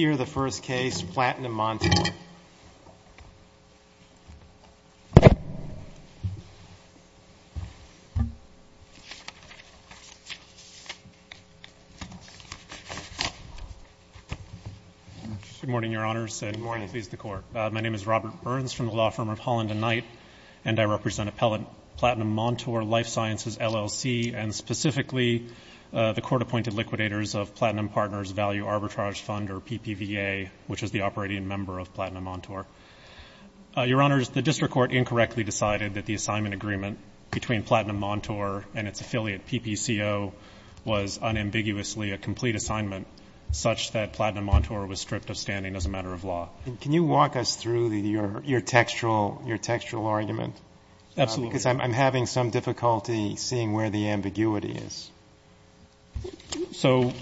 Here is the first case, Platinum-Montaur. Good morning, Your Honors. Good morning. Please, the Court. My name is Robert Burns from the law firm of Holland & Knight, and I represent Appellant Platinum-Montaur Life Sciences, LLC, and specifically the court-appointed liquidators of Platinum Partners Value Arbitrage Fund, or PPVA, which is the operating member of Platinum-Montaur. Your Honors, the district court incorrectly decided that the assignment agreement between Platinum-Montaur and its affiliate, PPCO, was unambiguously a complete assignment, such that Platinum-Montaur was stripped of standing as a matter of law. Can you walk us through your textual argument? Absolutely. Because I'm having some difficulty seeing where the ambiguity is. So,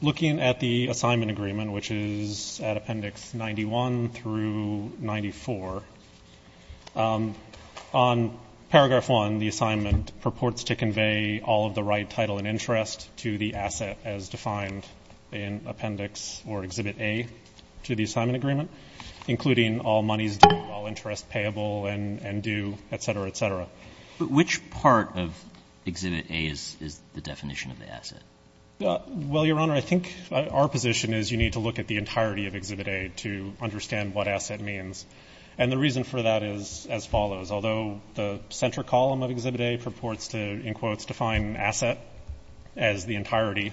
looking at the assignment agreement, which is at Appendix 91 through 94, on Paragraph 1, the assignment purports to convey all of the right title and interest to the asset as defined in Appendix or Exhibit A to the assignment agreement, including all monies due, all interest payable and due, et cetera, et cetera. Which part of Exhibit A is the definition of the asset? Well, Your Honor, I think our position is you need to look at the entirety of Exhibit A to understand what asset means. And the reason for that is as follows. Although the center column of Exhibit A purports to, in quotes, define asset as the entirety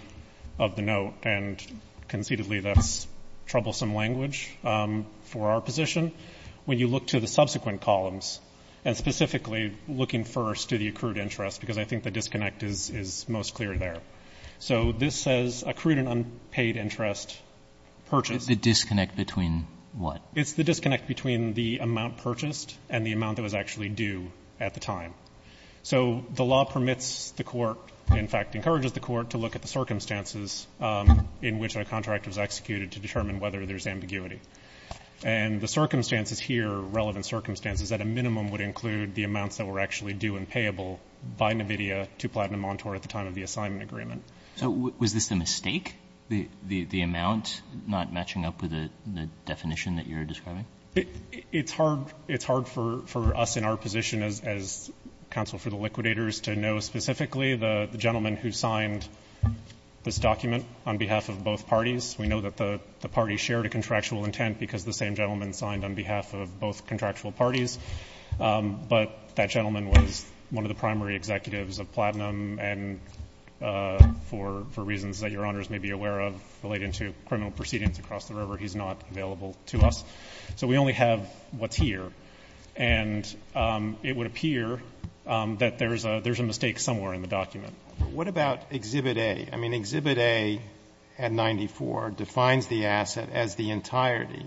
of the note, and conceitedly that's troublesome language for our position, when you look to the subsequent columns, and specifically looking first to the accrued interest, because I think the disconnect is most clear there. So this says accrued and unpaid interest purchased. The disconnect between what? It's the disconnect between the amount purchased and the amount that was actually due at the time. So the law permits the Court, in fact encourages the Court, to look at the circumstances in which a contract was executed to determine whether there's ambiguity. And the circumstances here, relevant circumstances, at a minimum would include the amounts that were actually due and payable by NVIDIA to Platinum Montour at the time of the assignment agreement. So was this a mistake, the amount not matching up with the definition that you're describing? It's hard for us in our position as counsel for the liquidators to know specifically the gentleman who signed this document on behalf of both parties. We know that the party shared a contractual intent because the same gentleman signed on behalf of both contractual parties. But that gentleman was one of the primary executives of Platinum, and for reasons that Your Honors may be aware of relating to criminal proceedings across the river, he's not available to us. So we only have what's here. And it would appear that there's a mistake somewhere in the document. What about Exhibit A? I mean, Exhibit A at 94 defines the asset as the entirety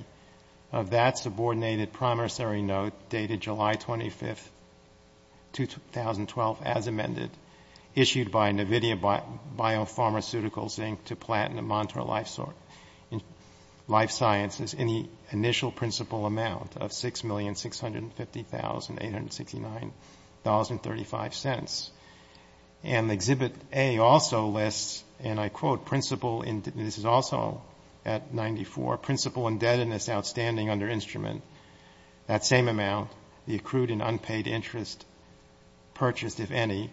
of that subordinated promissory note dated July 25, 2012, as amended, issued by NVIDIA Biopharmaceuticals, Inc. to Platinum Montour Life Sciences in the initial principal amount of $6,650,869.35. And Exhibit A also lists, and I quote, principal indebtedness outstanding under instrument, that same amount, the accrued and unpaid interest purchased, if any,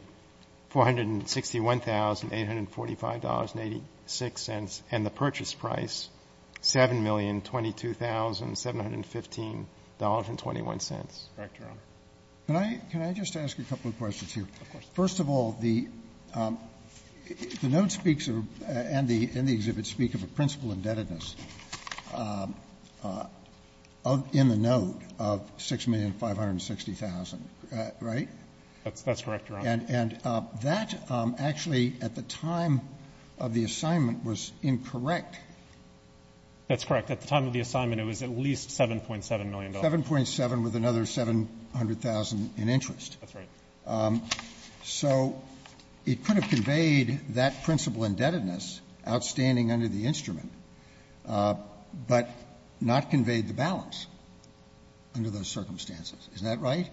$461,845.86, and the purchase price $7,022,715.21. Correct, Your Honor. Can I just ask a couple of questions here? Of course. First of all, the note speaks and the exhibit speak of a principal indebtedness in the note of $6,560,000, right? That's correct, Your Honor. And that actually, at the time of the assignment, was incorrect. That's correct. At the time of the assignment, it was at least $7.7 million. $7.7 with another $700,000 in interest. That's right. So it could have conveyed that principal indebtedness outstanding under the instrument, but not conveyed the balance under those circumstances. Isn't that right?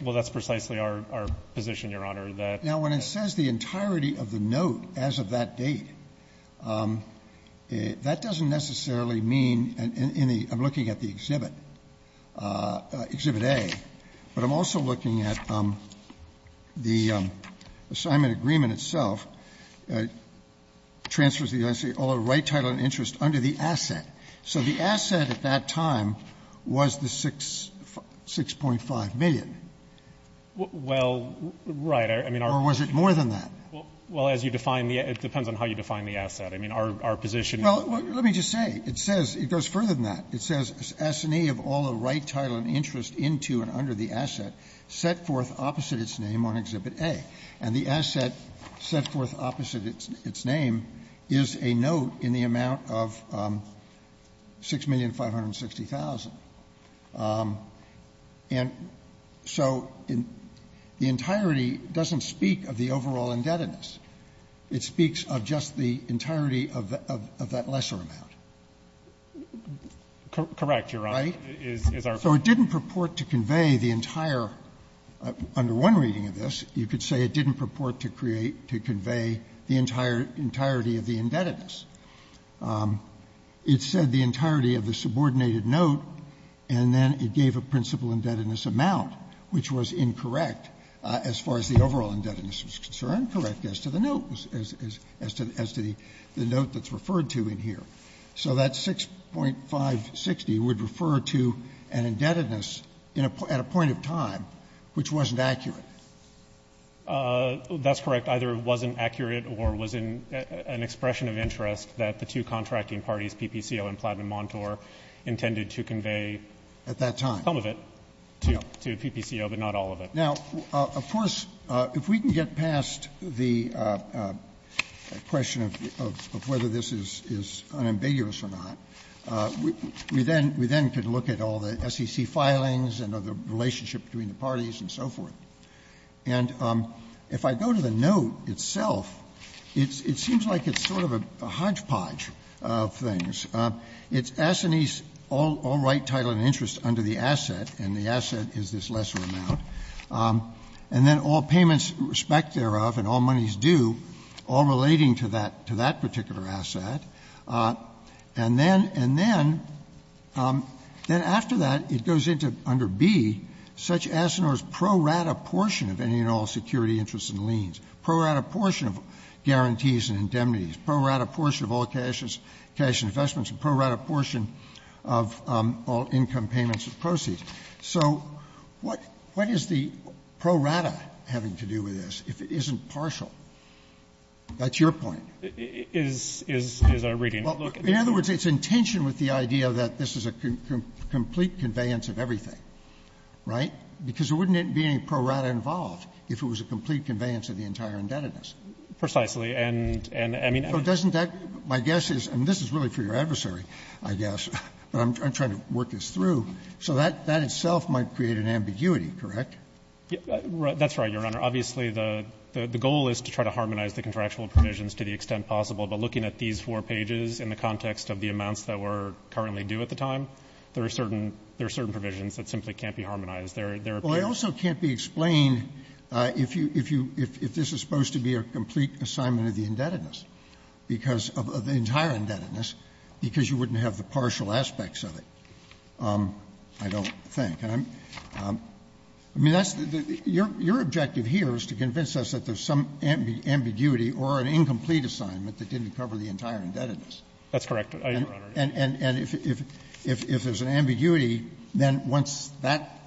Well, that's precisely our position, Your Honor. Now, when it says the entirety of the note as of that date, that doesn't necessarily mean, in the, I'm looking at the exhibit, Exhibit A, but I'm also looking at the assignment agreement itself, transfers the right title and interest under the asset. So the asset at that time was the $6.5 million. Well, right. Or was it more than that? Well, as you define the, it depends on how you define the asset. I mean, our position. Well, let me just say. It says, it goes further than that. It says S&E of all the right title and interest into and under the asset set forth opposite its name on Exhibit A. And the asset set forth opposite its name is a note in the amount of $6,560,000. And so the entirety doesn't speak of the overall indebtedness. It speaks of just the entirety of that lesser amount. Correct, Your Honor, is our position. So it didn't purport to convey the entire, under one reading of this, you could say it didn't purport to create, to convey the entirety of the indebtedness. It said the entirety of the subordinated note, and then it gave a principal indebtedness amount, which was incorrect as far as the overall indebtedness was concerned, correct as to the note, as to the note that's referred to in here. So that $6,560,000 would refer to an indebtedness at a point of time which wasn't accurate. That's correct. Either it wasn't accurate or was in an expression of interest that the two contracting parties, PPCO and Platinum Montour, intended to convey some of it to PPCO, but not all of it. Now, of course, if we can get past the question of whether this is unambiguous or not, we then could look at all the SEC filings and the relationship between the parties and so forth. And if I go to the note itself, it seems like it's sort of a hodgepodge of things. It's Assanese, all right, title and interest under the asset, and the asset is this lesser amount. And then all payments respect thereof and all monies due, all relating to that particular asset. And then, and then, then after that, it goes into under B, such as and ors pro rata portion of any and all security interests and liens, pro rata portion of guarantees and indemnities, pro rata portion of all cash investments, and pro rata portion of all income payments and proceeds. So what, what is the pro rata having to do with this, if it isn't partial? That's your point. Fisherman, Is, is, is a reading. Roberts, In other words, it's in tension with the idea that this is a complete conveyance of everything, right? Because there wouldn't be any pro rata involved if it was a complete conveyance of the entire indebtedness. Fisherman, Precisely. And, and, I mean, I don't know. Roberts, So doesn't that, my guess is, and this is really for your adversary, I guess, but I'm trying to work this through. So that, that itself might create an ambiguity, correct? Fisherman, That's right, Your Honor. Obviously, the, the goal is to try to harmonize the contractual provisions to the extent possible. But looking at these four pages in the context of the amounts that were currently due at the time, there are certain, there are certain provisions that simply can't be harmonized. There, there appear to be. Roberts, Well, it also can't be explained if you, if you, if, if this is supposed to be a complete assignment of the indebtedness, because of the entire indebtedness, because you wouldn't have the partial aspects of it. I don't think. And I'm, I mean, that's the, your, your objective here is to convince us that there's some ambiguity or an incomplete assignment that didn't cover the entire indebtedness. Fisherman, That's correct, Your Honor. Roberts, And, and, and if, if, if there's an ambiguity, then once that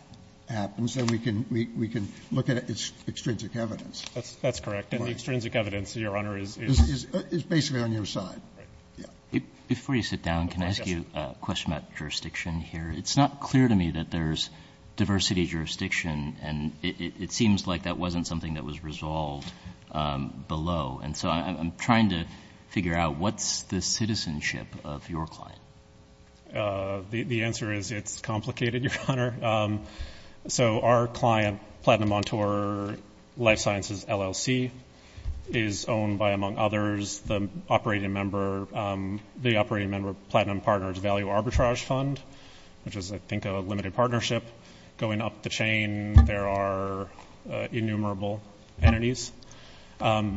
happens, then we can, we can look at its extrinsic evidence. Fisherman, That's, that's correct. And the extrinsic evidence, Your Honor, is, is, is, is, is basically on your side. Roberts, Right. Yeah. Before you sit down, can I ask you a question about jurisdiction here? It's not clear to me that there's diversity jurisdiction. And it, it, it seems like that wasn't something that was resolved below. And so I'm, I'm trying to figure out what's the citizenship of your client? Fisherman, The, the answer is it's complicated, Your Honor. So our client, Platinum Montour Life Sciences LLC, is owned by, among others, the operating member, the operating member of Platinum Partners Value Arbitrage Fund, which is, I think, a limited partnership. Going up the chain, there are innumerable entities.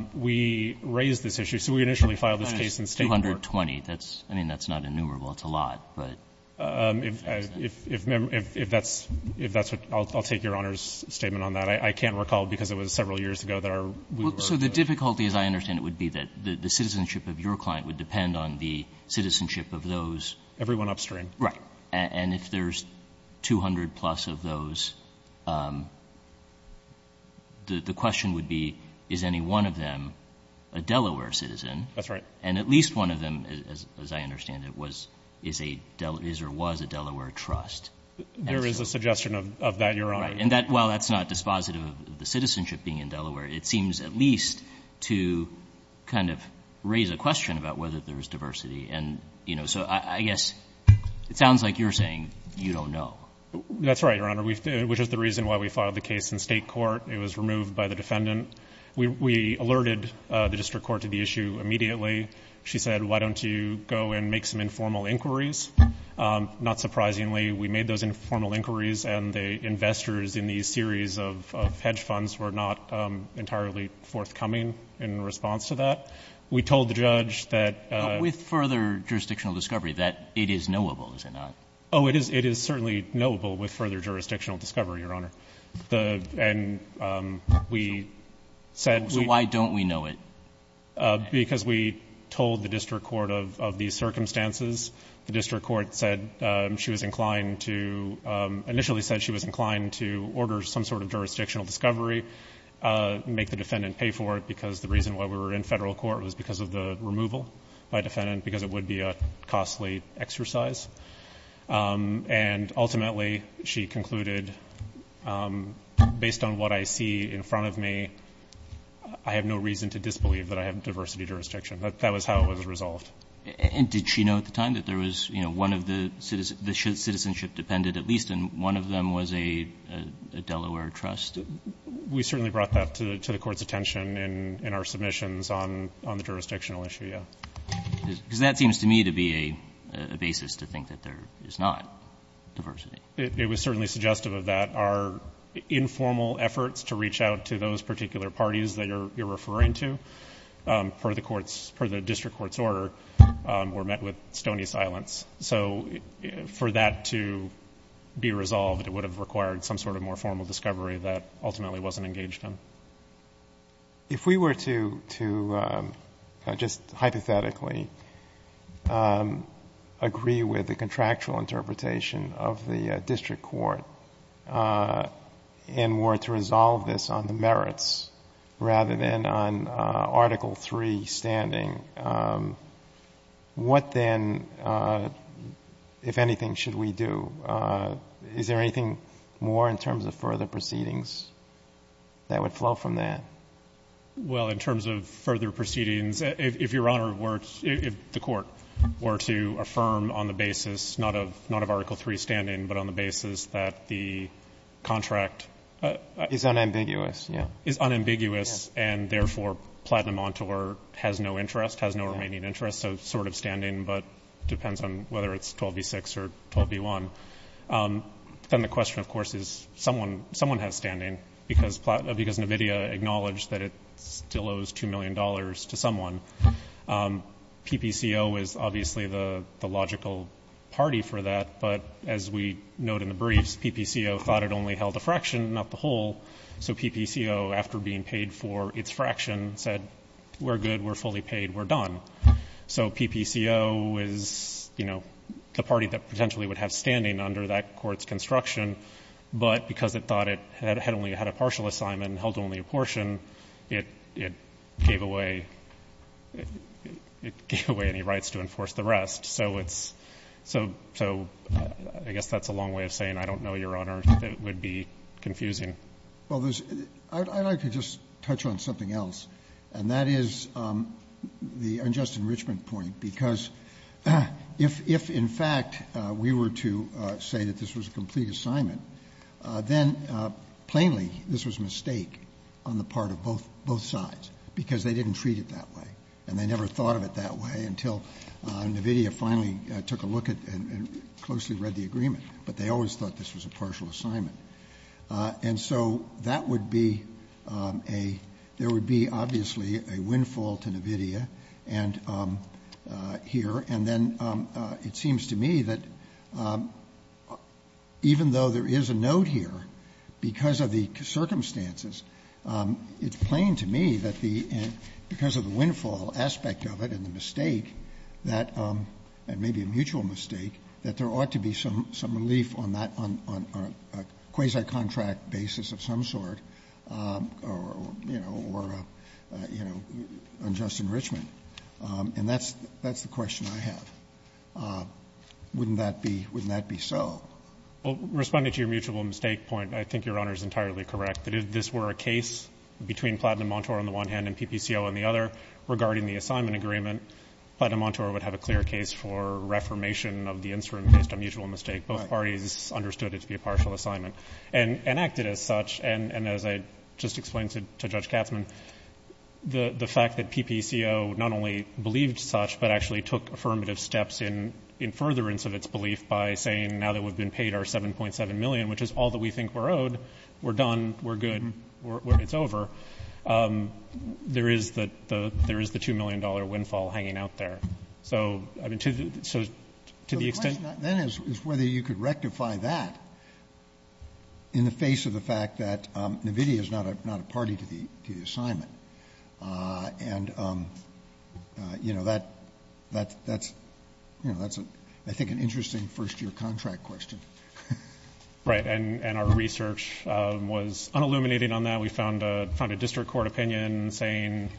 We raised this issue. So we initially filed this case in State court. Roberts, 220. That's, I mean, that's not innumerable. It's a lot, but. Fisherman, If, if, if, if that's, if that's what, I'll, I'll take Your Honor's statement on that. I, I can't recall because it was several years ago that our, we were. Kagan, So the difficulty, as I understand it, would be that the, the citizenship of your client would depend on the citizenship of those. Fisherman, Everyone upstream. Kagan, Right. And, and if there's 200 plus of those, the, the question would be, is any one of them a Delaware citizen? Fisherman, That's right. Kagan, And at least one of them, as, as I understand it, was, is a, is or was a Delaware Fisherman, There is a suggestion of, of that, Your Honor. Kagan, Right. And that, while that's not dispositive of the citizenship being in Delaware, it seems at least to kind of raise a question about whether there's diversity. And, you know, so I, I guess it sounds like you're saying you don't know. Fisherman, That's right, Your Honor. We, which is the reason why we filed the case in state court. It was removed by the defendant. We, we alerted the district court to the issue immediately. She said, why don't you go and make some informal inquiries? Not surprisingly, we made those informal inquiries, and the investors in these series of, of hedge funds were not entirely forthcoming in response to that. We told the judge that, Kagan, With further jurisdictional discovery that it is knowable, is it not? Fisherman, Oh, it is, it is certainly knowable with further jurisdictional discovery, Your Honor. The, and we said, Kagan, Why don't we know it? Fisherman, Because we told the district court of, of these circumstances. The district court said she was inclined to, initially said she was inclined to order some sort of jurisdictional discovery, make the defendant pay for it, because the reason why we were in federal court was because of the removal by defendant, because it would be a costly exercise. And ultimately, she concluded, based on what I see in front of me, I have no reason to disbelieve that I have diversity jurisdiction. That, that was how it was resolved. And did she know at the time that there was, you know, one of the citizens, the citizenship dependent at least, and one of them was a, a Delaware trust? Fisherman, We certainly brought that to, to the court's attention in, in our submissions on, on the jurisdictional issue, yeah. Kagan, Because that seems to me to be a, a basis to think that there is not diversity. Fisherman, It, it was certainly suggestive of that. Our informal efforts to reach out to those particular parties that you're, you're referring to, per the court's, per the district court's order, were met with stony silence. So, for that to be resolved, it would have required some sort of more formal discovery that ultimately wasn't engaged in. If we were to, to just hypothetically, agree with the contractual interpretation of the district court, and were to resolve this on the merits, rather than on article three standing, what then, if anything, should we do? Is there anything more in terms of further proceedings that would flow from that? Fisherman, Well, in terms of further proceedings, if, if Your Honor were to, if the court were to affirm on the basis, not of, not of article three standing, but on the basis that the contract- Kagan, Is unambiguous, yeah. Fisherman, Is unambiguous, and therefore, Platinum Montour has no interest, has no remaining interest, so sort of standing, but depends on whether it's 12B6 or 12B1. Then the question, of course, is someone, someone has standing, because Platinum, because NVIDIA acknowledged that it still owes $2 million to someone. PPCO is obviously the, the logical party for that, but as we note in the briefs, PPCO thought it only held a fraction, not the whole. So PPCO, after being paid for its fraction, said, we're good, we're fully paid, we're done. So PPCO is, you know, the party that potentially would have standing under that court's construction, but because it thought it had only had a partial assignment and held only a portion, it, it gave away, it gave away any rights to enforce the rest. So it's, so, so I guess that's a long way of saying, I don't know, Your Honor, that it would be confusing. Roberts, I'd like to just touch on something else, and that is the unjust enrichment point, because if, if, in fact, we were to say that this was a complete assignment, then, plainly, this was a mistake on the part of both, both sides, because they didn't treat it that way. And they never thought of it that way until NVIDIA finally took a look at and, and closely read the agreement. But they always thought this was a partial assignment. And so that would be a, there would be, obviously, a windfall to NVIDIA and here. And then it seems to me that even though there is a note here, because of the circumstances, it's plain to me that the, because of the windfall aspect of it and the mistake that, and maybe a mutual mistake, that there ought to be some, some relief on that, on, on, on a quasi-contract basis of some sort. Or, you know, or you know, unjust enrichment. And that's, that's the question I have. Wouldn't that be, wouldn't that be so? Well, responding to your mutual mistake point, I think your Honor's entirely correct. That if this were a case between Platinum Montour on the one hand and PPCO on the other, regarding the assignment agreement, Platinum Montour would have a clear case for reformation of the instrument based on mutual mistake. Right. Both parties understood it to be a partial assignment. And, and acted as such, and, and as I just explained to, to Judge Katzman, the, the fact that PPCO not only believed such, but actually took affirmative steps in, in furtherance of its belief by saying, now that we've been paid our 7.7 million, which is all that we think we're owed, we're done, we're good, we're, we're, it's over. There is the, the, there is the $2 million windfall hanging out there. So, I mean, to the, so, to the extent. That is, is whether you could rectify that in the face of the fact that the, the assignment, and, you know, that, that, that's, you know, that's a, I think an interesting first year contract question. Right, and, and our research was unilluminating on that. We found a, found a district court opinion saying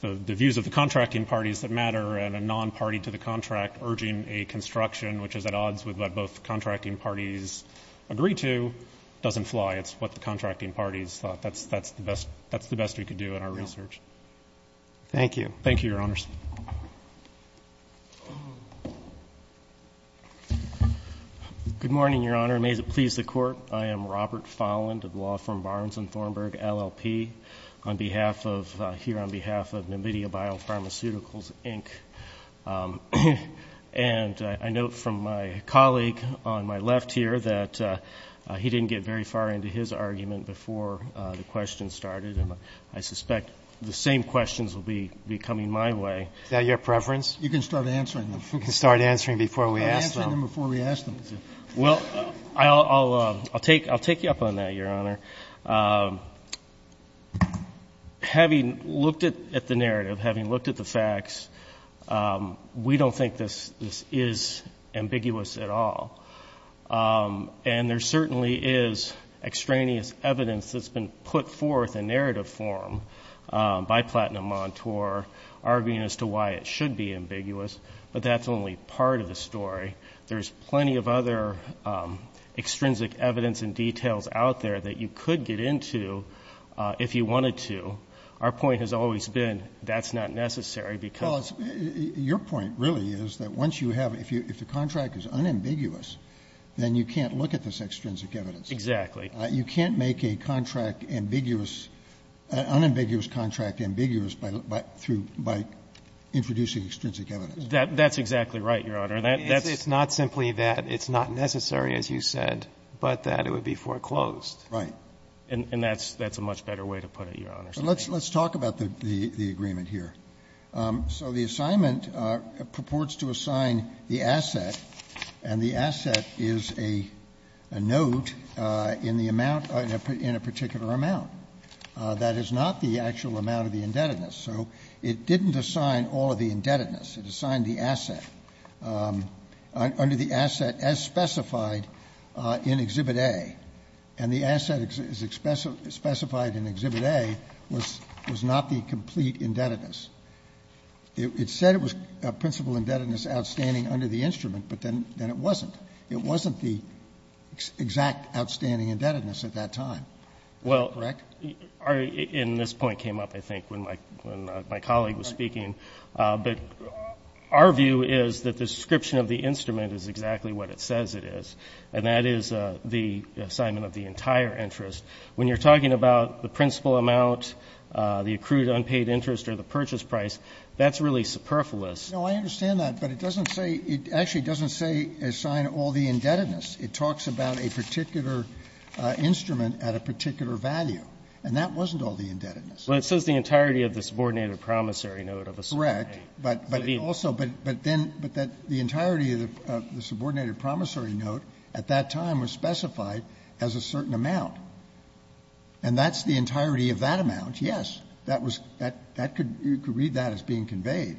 the, the views of the contracting parties that matter, and a non-party to the contract urging a construction which is at odds with what both contracting parties agree to, doesn't fly, it's what the contracting parties thought. That's, that's the best, that's the best we could do in our research. Thank you. Thank you, your honors. Good morning, your honor. May it please the court. I am Robert Folland of law firm Barnes and Thornburg, LLP. On behalf of, here on behalf of Namidia Biopharmaceuticals, Inc. And I, I note from my colleague on my left here that he didn't get very far into his argument before the question started. And I suspect the same questions will be, be coming my way. Is that your preference? You can start answering them. You can start answering before we ask them. I'll answer them before we ask them. Well, I'll, I'll, I'll take, I'll take you up on that, your honor. Having looked at, at the narrative, having looked at the facts we don't think this, this is ambiguous at all. And there certainly is extraneous evidence that's been put forth in narrative form by Platinum Montour, arguing as to why it should be ambiguous. But that's only part of the story. There's plenty of other extrinsic evidence and details out there that you could get into if you wanted to. Our point has always been, that's not necessary because- Well it's, your point really is that once you have, if you, if the contract is unambiguous, then you can't look at this extrinsic evidence. Exactly. You can't make a contract ambiguous, an unambiguous contract ambiguous by, by, through, by introducing extrinsic evidence. That, that's exactly right, your honor. That, that's- It's not simply that it's not necessary, as you said, but that it would be foreclosed. Right. And, and that's, that's a much better way to put it, your honor. So let's, let's talk about the, the, the agreement here. So the assignment purports to assign the asset, and the asset is a, a note in the amount, in a particular amount. That is not the actual amount of the indebtedness, so it didn't assign all of the indebtedness. It assigned the asset under the asset as specified in Exhibit A. And the asset is, is express, specified in Exhibit A was, was not the complete indebtedness. It, it said it was a principal indebtedness outstanding under the instrument, but then, then it wasn't. It wasn't the exact outstanding indebtedness at that time. Well- Correct? Our, in this point came up, I think, when my, when my colleague was speaking. But our view is that the description of the instrument is exactly what it says it is. And that is the assignment of the entire interest. When you're talking about the principal amount, the accrued unpaid interest, or the purchase price, that's really superfluous. No, I understand that, but it doesn't say, it actually doesn't say assign all the indebtedness. It talks about a particular instrument at a particular value. And that wasn't all the indebtedness. Well, it says the entirety of the subordinated promissory note of a subordinate. But, but also, but, but then, but that the entirety of the subordinated promissory note at that time was specified as a certain amount. And that's the entirety of that amount, yes. That was, that, that could, you could read that as being conveyed.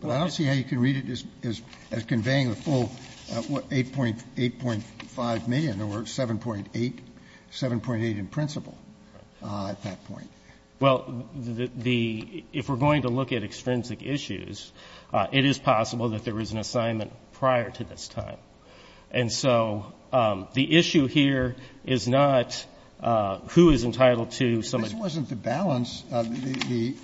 But I don't see how you can read it as, as, as conveying the full 8.8.5 million or 7.8, 7.8 in principal at that point. Well, the, the, if we're going to look at extrinsic issues, it is possible that there was an assignment prior to this time. And so the issue here is not who is entitled to some of the. This wasn't the balance of the,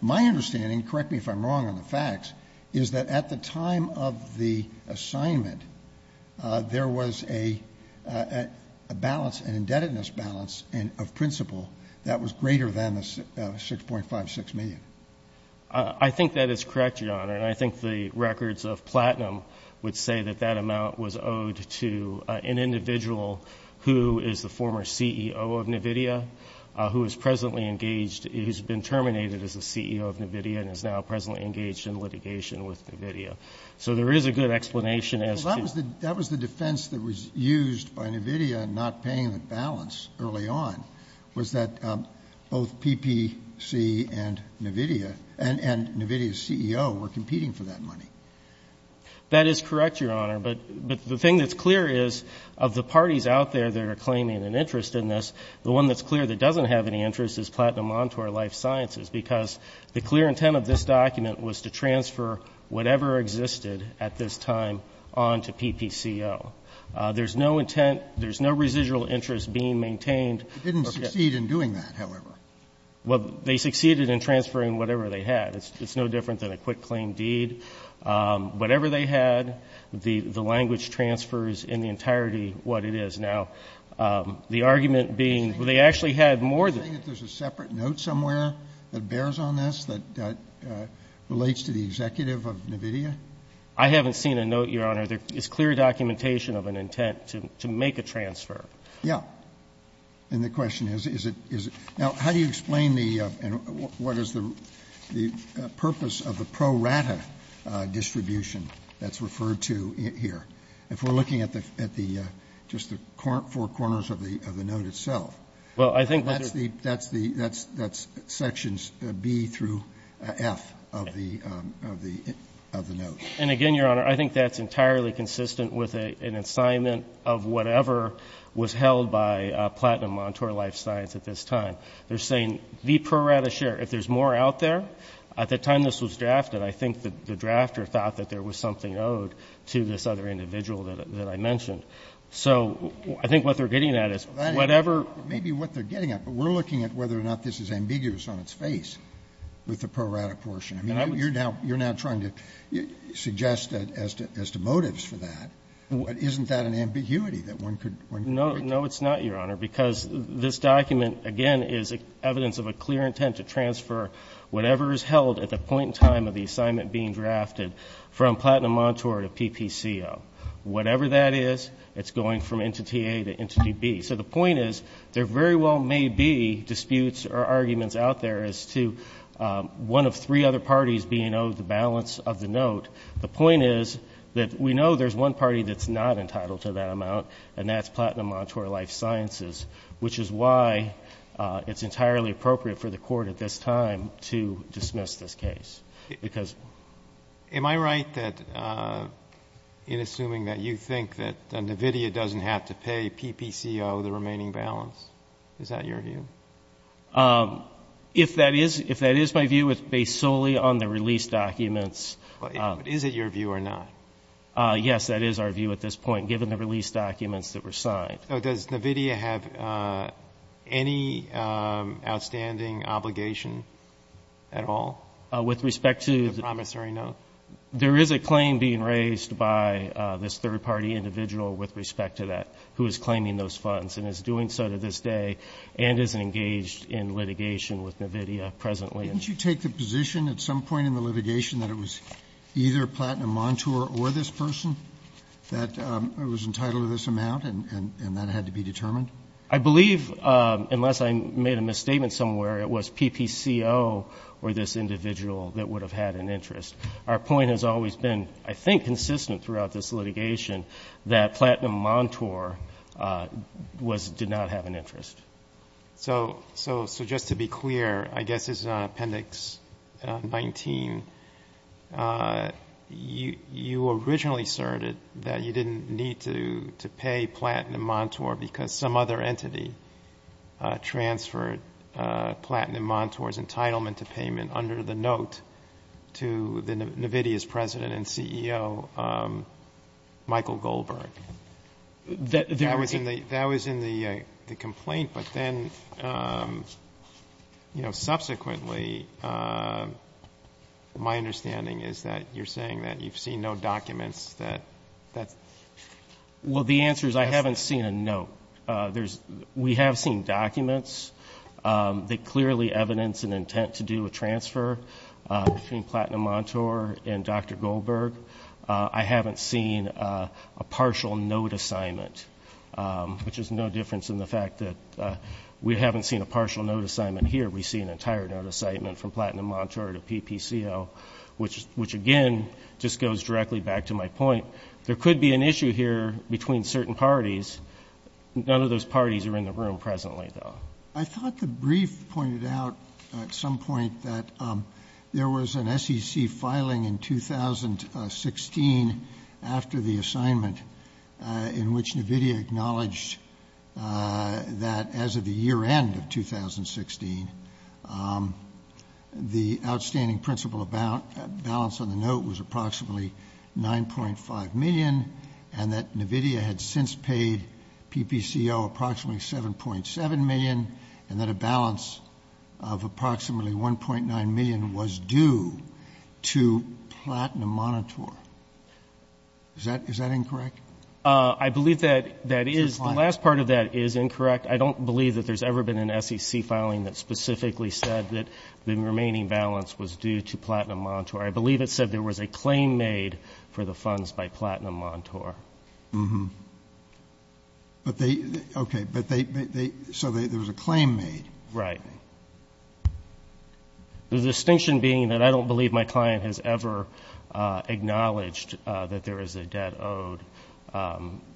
my understanding, correct me if I'm wrong on the facts, is that at the time of the assignment, there was a, a balance, an indebtedness balance of principal that was greater than the 6.56 million. I think that is correct, your honor. And I think the records of platinum would say that that amount was owed to an individual who is the former CEO of NVIDIA, who is presently engaged, who's been terminated as the CEO of NVIDIA and is now presently engaged in litigation with NVIDIA. That was the defense that was used by NVIDIA, not paying the balance early on, was that both PPC and NVIDIA, and NVIDIA's CEO were competing for that money. That is correct, your honor. But the thing that's clear is, of the parties out there that are claiming an interest in this, the one that's clear that doesn't have any interest is Platinum Montour Life Sciences. Because the clear intent of this document was to transfer whatever existed at this time on to PPCO. There's no intent, there's no residual interest being maintained. It didn't succeed in doing that, however. Well, they succeeded in transferring whatever they had. It's no different than a quick claim deed. Whatever they had, the language transfers in the entirety what it is. Now, the argument being, well, they actually had more than- That bears on this, that relates to the executive of NVIDIA? I haven't seen a note, your honor. There is clear documentation of an intent to make a transfer. Yeah. And the question is, is it- Now, how do you explain the, and what is the purpose of the pro rata distribution that's referred to here? If we're looking at the, just the four corners of the note itself. Well, I think- That's sections B through F of the note. And again, your honor, I think that's entirely consistent with an assignment of whatever was held by Platinum Montour Life Science at this time. They're saying, the pro rata share, if there's more out there, at the time this was drafted, I think that the drafter thought that there was something owed to this other individual that I mentioned. So, I think what they're getting at is, whatever- Maybe what they're getting at, but we're looking at whether or not this is ambiguous on its face with the pro rata portion. I mean, you're now trying to suggest that as to motives for that, but isn't that an ambiguity that one could- No, it's not, your honor, because this document, again, is evidence of a clear intent to transfer whatever is held at the point in time of the assignment being drafted from Platinum Montour to PPCO. Whatever that is, it's going from entity A to entity B. So the point is, there very well may be disputes or arguments out there as to one of three other parties being owed the balance of the note. The point is that we know there's one party that's not entitled to that amount, and that's Platinum Montour Life Sciences. Which is why it's entirely appropriate for the court at this time to dismiss this case, because- Assuming that you think that NVIDIA doesn't have to pay PPCO the remaining balance. Is that your view? If that is my view, it's based solely on the release documents. Is it your view or not? Yes, that is our view at this point, given the release documents that were signed. Does NVIDIA have any outstanding obligation at all? With respect to- The promissory note? There is a claim being raised by this third party individual with respect to that, who is claiming those funds. And is doing so to this day, and is engaged in litigation with NVIDIA presently. Didn't you take the position at some point in the litigation that it was either Platinum Montour or this person that was entitled to this amount, and that had to be determined? I believe, unless I made a misstatement somewhere, it was PPCO or this individual that would have had an interest. Our point has always been, I think consistent throughout this litigation, that Platinum Montour did not have an interest. So, just to be clear, I guess this is on appendix 19. You originally asserted that you didn't need to pay Platinum Montour, because some other entity transferred Platinum Montour's entitlement to payment under the note to the NVIDIA's president and CEO, Michael Goldberg. That was in the complaint, but then, Subsequently, my understanding is that you're saying that you've seen no documents that. Well, the answer is I haven't seen a note. We have seen documents that clearly evidence an intent to do a transfer between Platinum Montour and Dr. Goldberg. I haven't seen a partial note assignment, which is no difference in the fact that we haven't seen a partial note assignment here. We've seen an entire note assignment from Platinum Montour to PPCO, which again, just goes directly back to my point. There could be an issue here between certain parties. None of those parties are in the room presently, though. I thought the brief pointed out at some point that there was an SEC filing in 2016 after the assignment in which NVIDIA acknowledged that as of the year end of 2016, the outstanding principal balance on the note was approximately 9.5 million, and that NVIDIA had since paid PPCO approximately 7.7 million, and that a balance of approximately 1.9 million was due to Platinum Montour. Is that incorrect? I believe that is. The last part of that is incorrect. I don't believe that there's ever been an SEC filing that specifically said that the remaining balance was due to Platinum Montour. I believe it said there was a claim made for the funds by Platinum Montour. Mm-hm. But they, okay, but they, so there was a claim made. Right. The distinction being that I don't believe my client has ever acknowledged that there is a debt owed.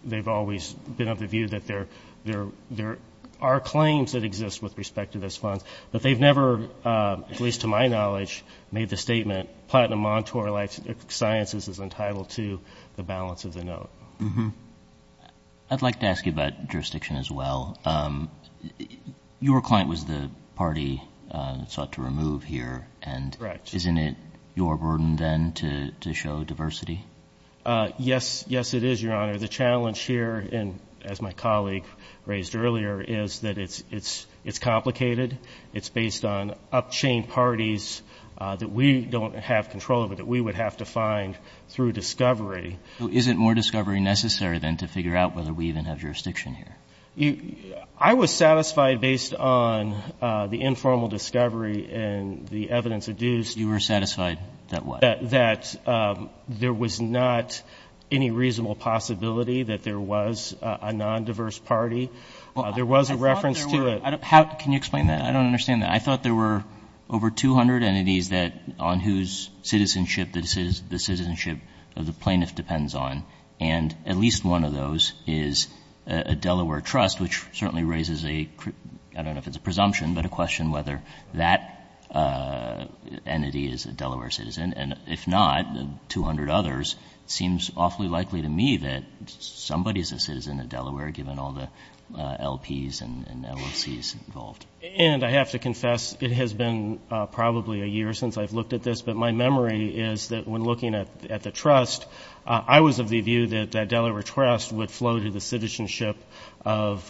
They've always been of the view that there are claims that exist with respect to those funds, but they've never, at least to my knowledge, made the statement, Platinum Montour Life Sciences is entitled to the balance of the note. Mm-hm. I'd like to ask you about jurisdiction as well. Your client was the party sought to remove here. Correct. And isn't it your burden then to show diversity? Yes, it is, Your Honor. The challenge here, as my colleague raised earlier, is that it's complicated. It's based on up-chain parties that we don't have control over, that we would have to find through discovery. So isn't more discovery necessary then to figure out whether we even have jurisdiction here? I was satisfied based on the informal discovery and the evidence adduced. You were satisfied that what? That there was not any reasonable possibility that there was a nondiverse party. There was a reference to it. Can you explain that? I don't understand that. I thought there were over 200 entities that on whose citizenship the citizenship of the plaintiff depends on, and at least one of those is a Delaware trust, which certainly raises a, I don't know if it's a presumption, but a question whether that entity is a Delaware citizen. And if not, 200 others, it seems awfully likely to me that somebody is a citizen of Delaware, given all the LPs and LOCs involved. And I have to confess, it has been probably a year since I've looked at this, but my memory is that when looking at the trust, I was of the view that that Delaware trust would flow to the citizenship of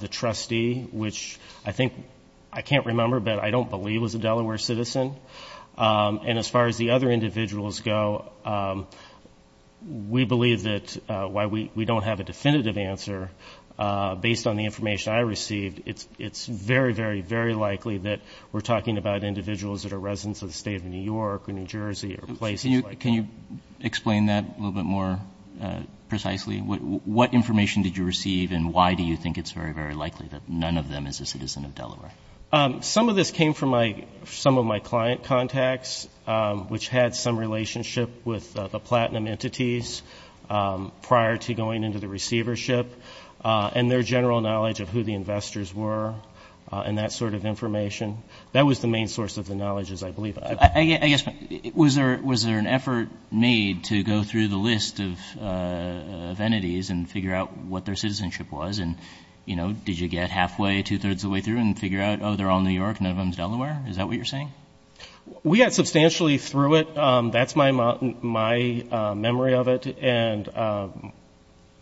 the trustee, which I think I can't remember, but I don't believe was a Delaware citizen. And as far as the other individuals go, we believe that while we don't have a definitive answer, based on the information I received, it's very, very, very likely that we're talking about individuals that are residents of the state of New York or New Jersey or places like that. Can you explain that a little bit more precisely? What information did you receive, and why do you think it's very, very likely that none of them is a citizen of Delaware? Some of this came from some of my client contacts, which had some relationship with the platinum entities prior to going into the receivership, and their general knowledge of who the investors were and that sort of information. That was the main source of the knowledge, I believe. Was there an effort made to go through the list of entities and figure out what their citizenship was? And, you know, did you get halfway, two-thirds of the way through and figure out, oh, they're all New York, none of them is Delaware? Is that what you're saying? We got substantially through it. That's my memory of it. And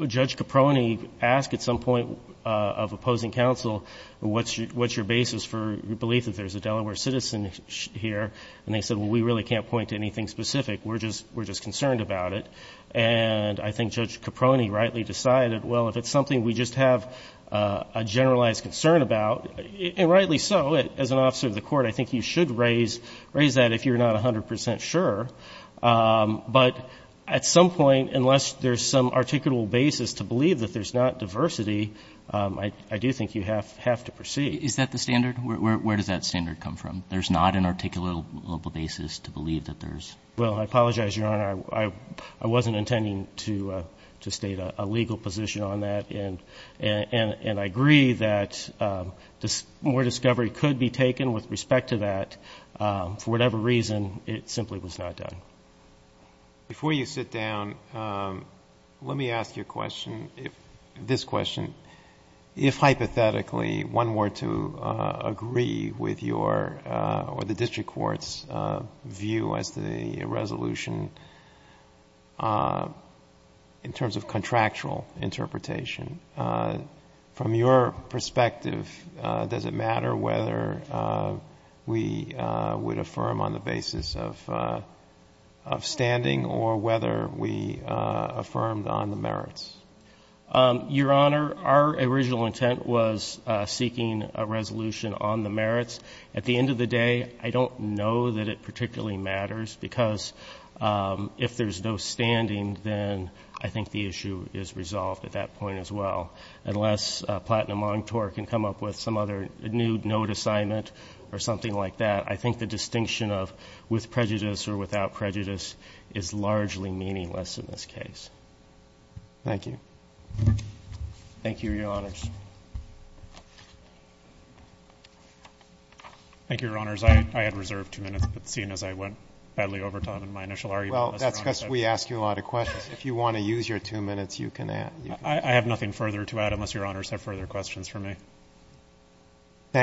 Judge Caproni asked at some point of opposing counsel, what's your basis for your belief that there's a Delaware citizen here? And they said, well, we really can't point to anything specific. We're just concerned about it. And I think Judge Caproni rightly decided, well, if it's something we just have a generalized concern about, and rightly so. As an officer of the court, I think you should raise that if you're not 100% sure. But at some point, unless there's some articulable basis to believe that there's not diversity, I do think you have to proceed. Is that the standard? Where does that standard come from? There's not an articulable basis to believe that there's? Well, I apologize, Your Honor. I wasn't intending to state a legal position on that. And I agree that more discovery could be taken with respect to that. For whatever reason, it simply was not done. Before you sit down, let me ask you a question, this question. If, hypothetically, one were to agree with your or the district court's view as to the resolution in terms of contractual interpretation, from your perspective, does it matter whether we would affirm on the basis of standing or whether we affirmed on the merits? Your Honor, our original intent was seeking a resolution on the merits. At the end of the day, I don't know that it particularly matters, because if there's no standing, then I think the issue is resolved at that point as well. Unless Platinum Montour can come up with some other new note assignment or something like that, I think the distinction of with prejudice or without prejudice is largely meaningless in this case. Thank you. Thank you, Your Honors. Thank you, Your Honors. I had reserved two minutes, but seeing as I went badly over time in my initial argument. Well, that's because we ask you a lot of questions. If you want to use your two minutes, you can add. I have nothing further to add unless Your Honors have further questions for me.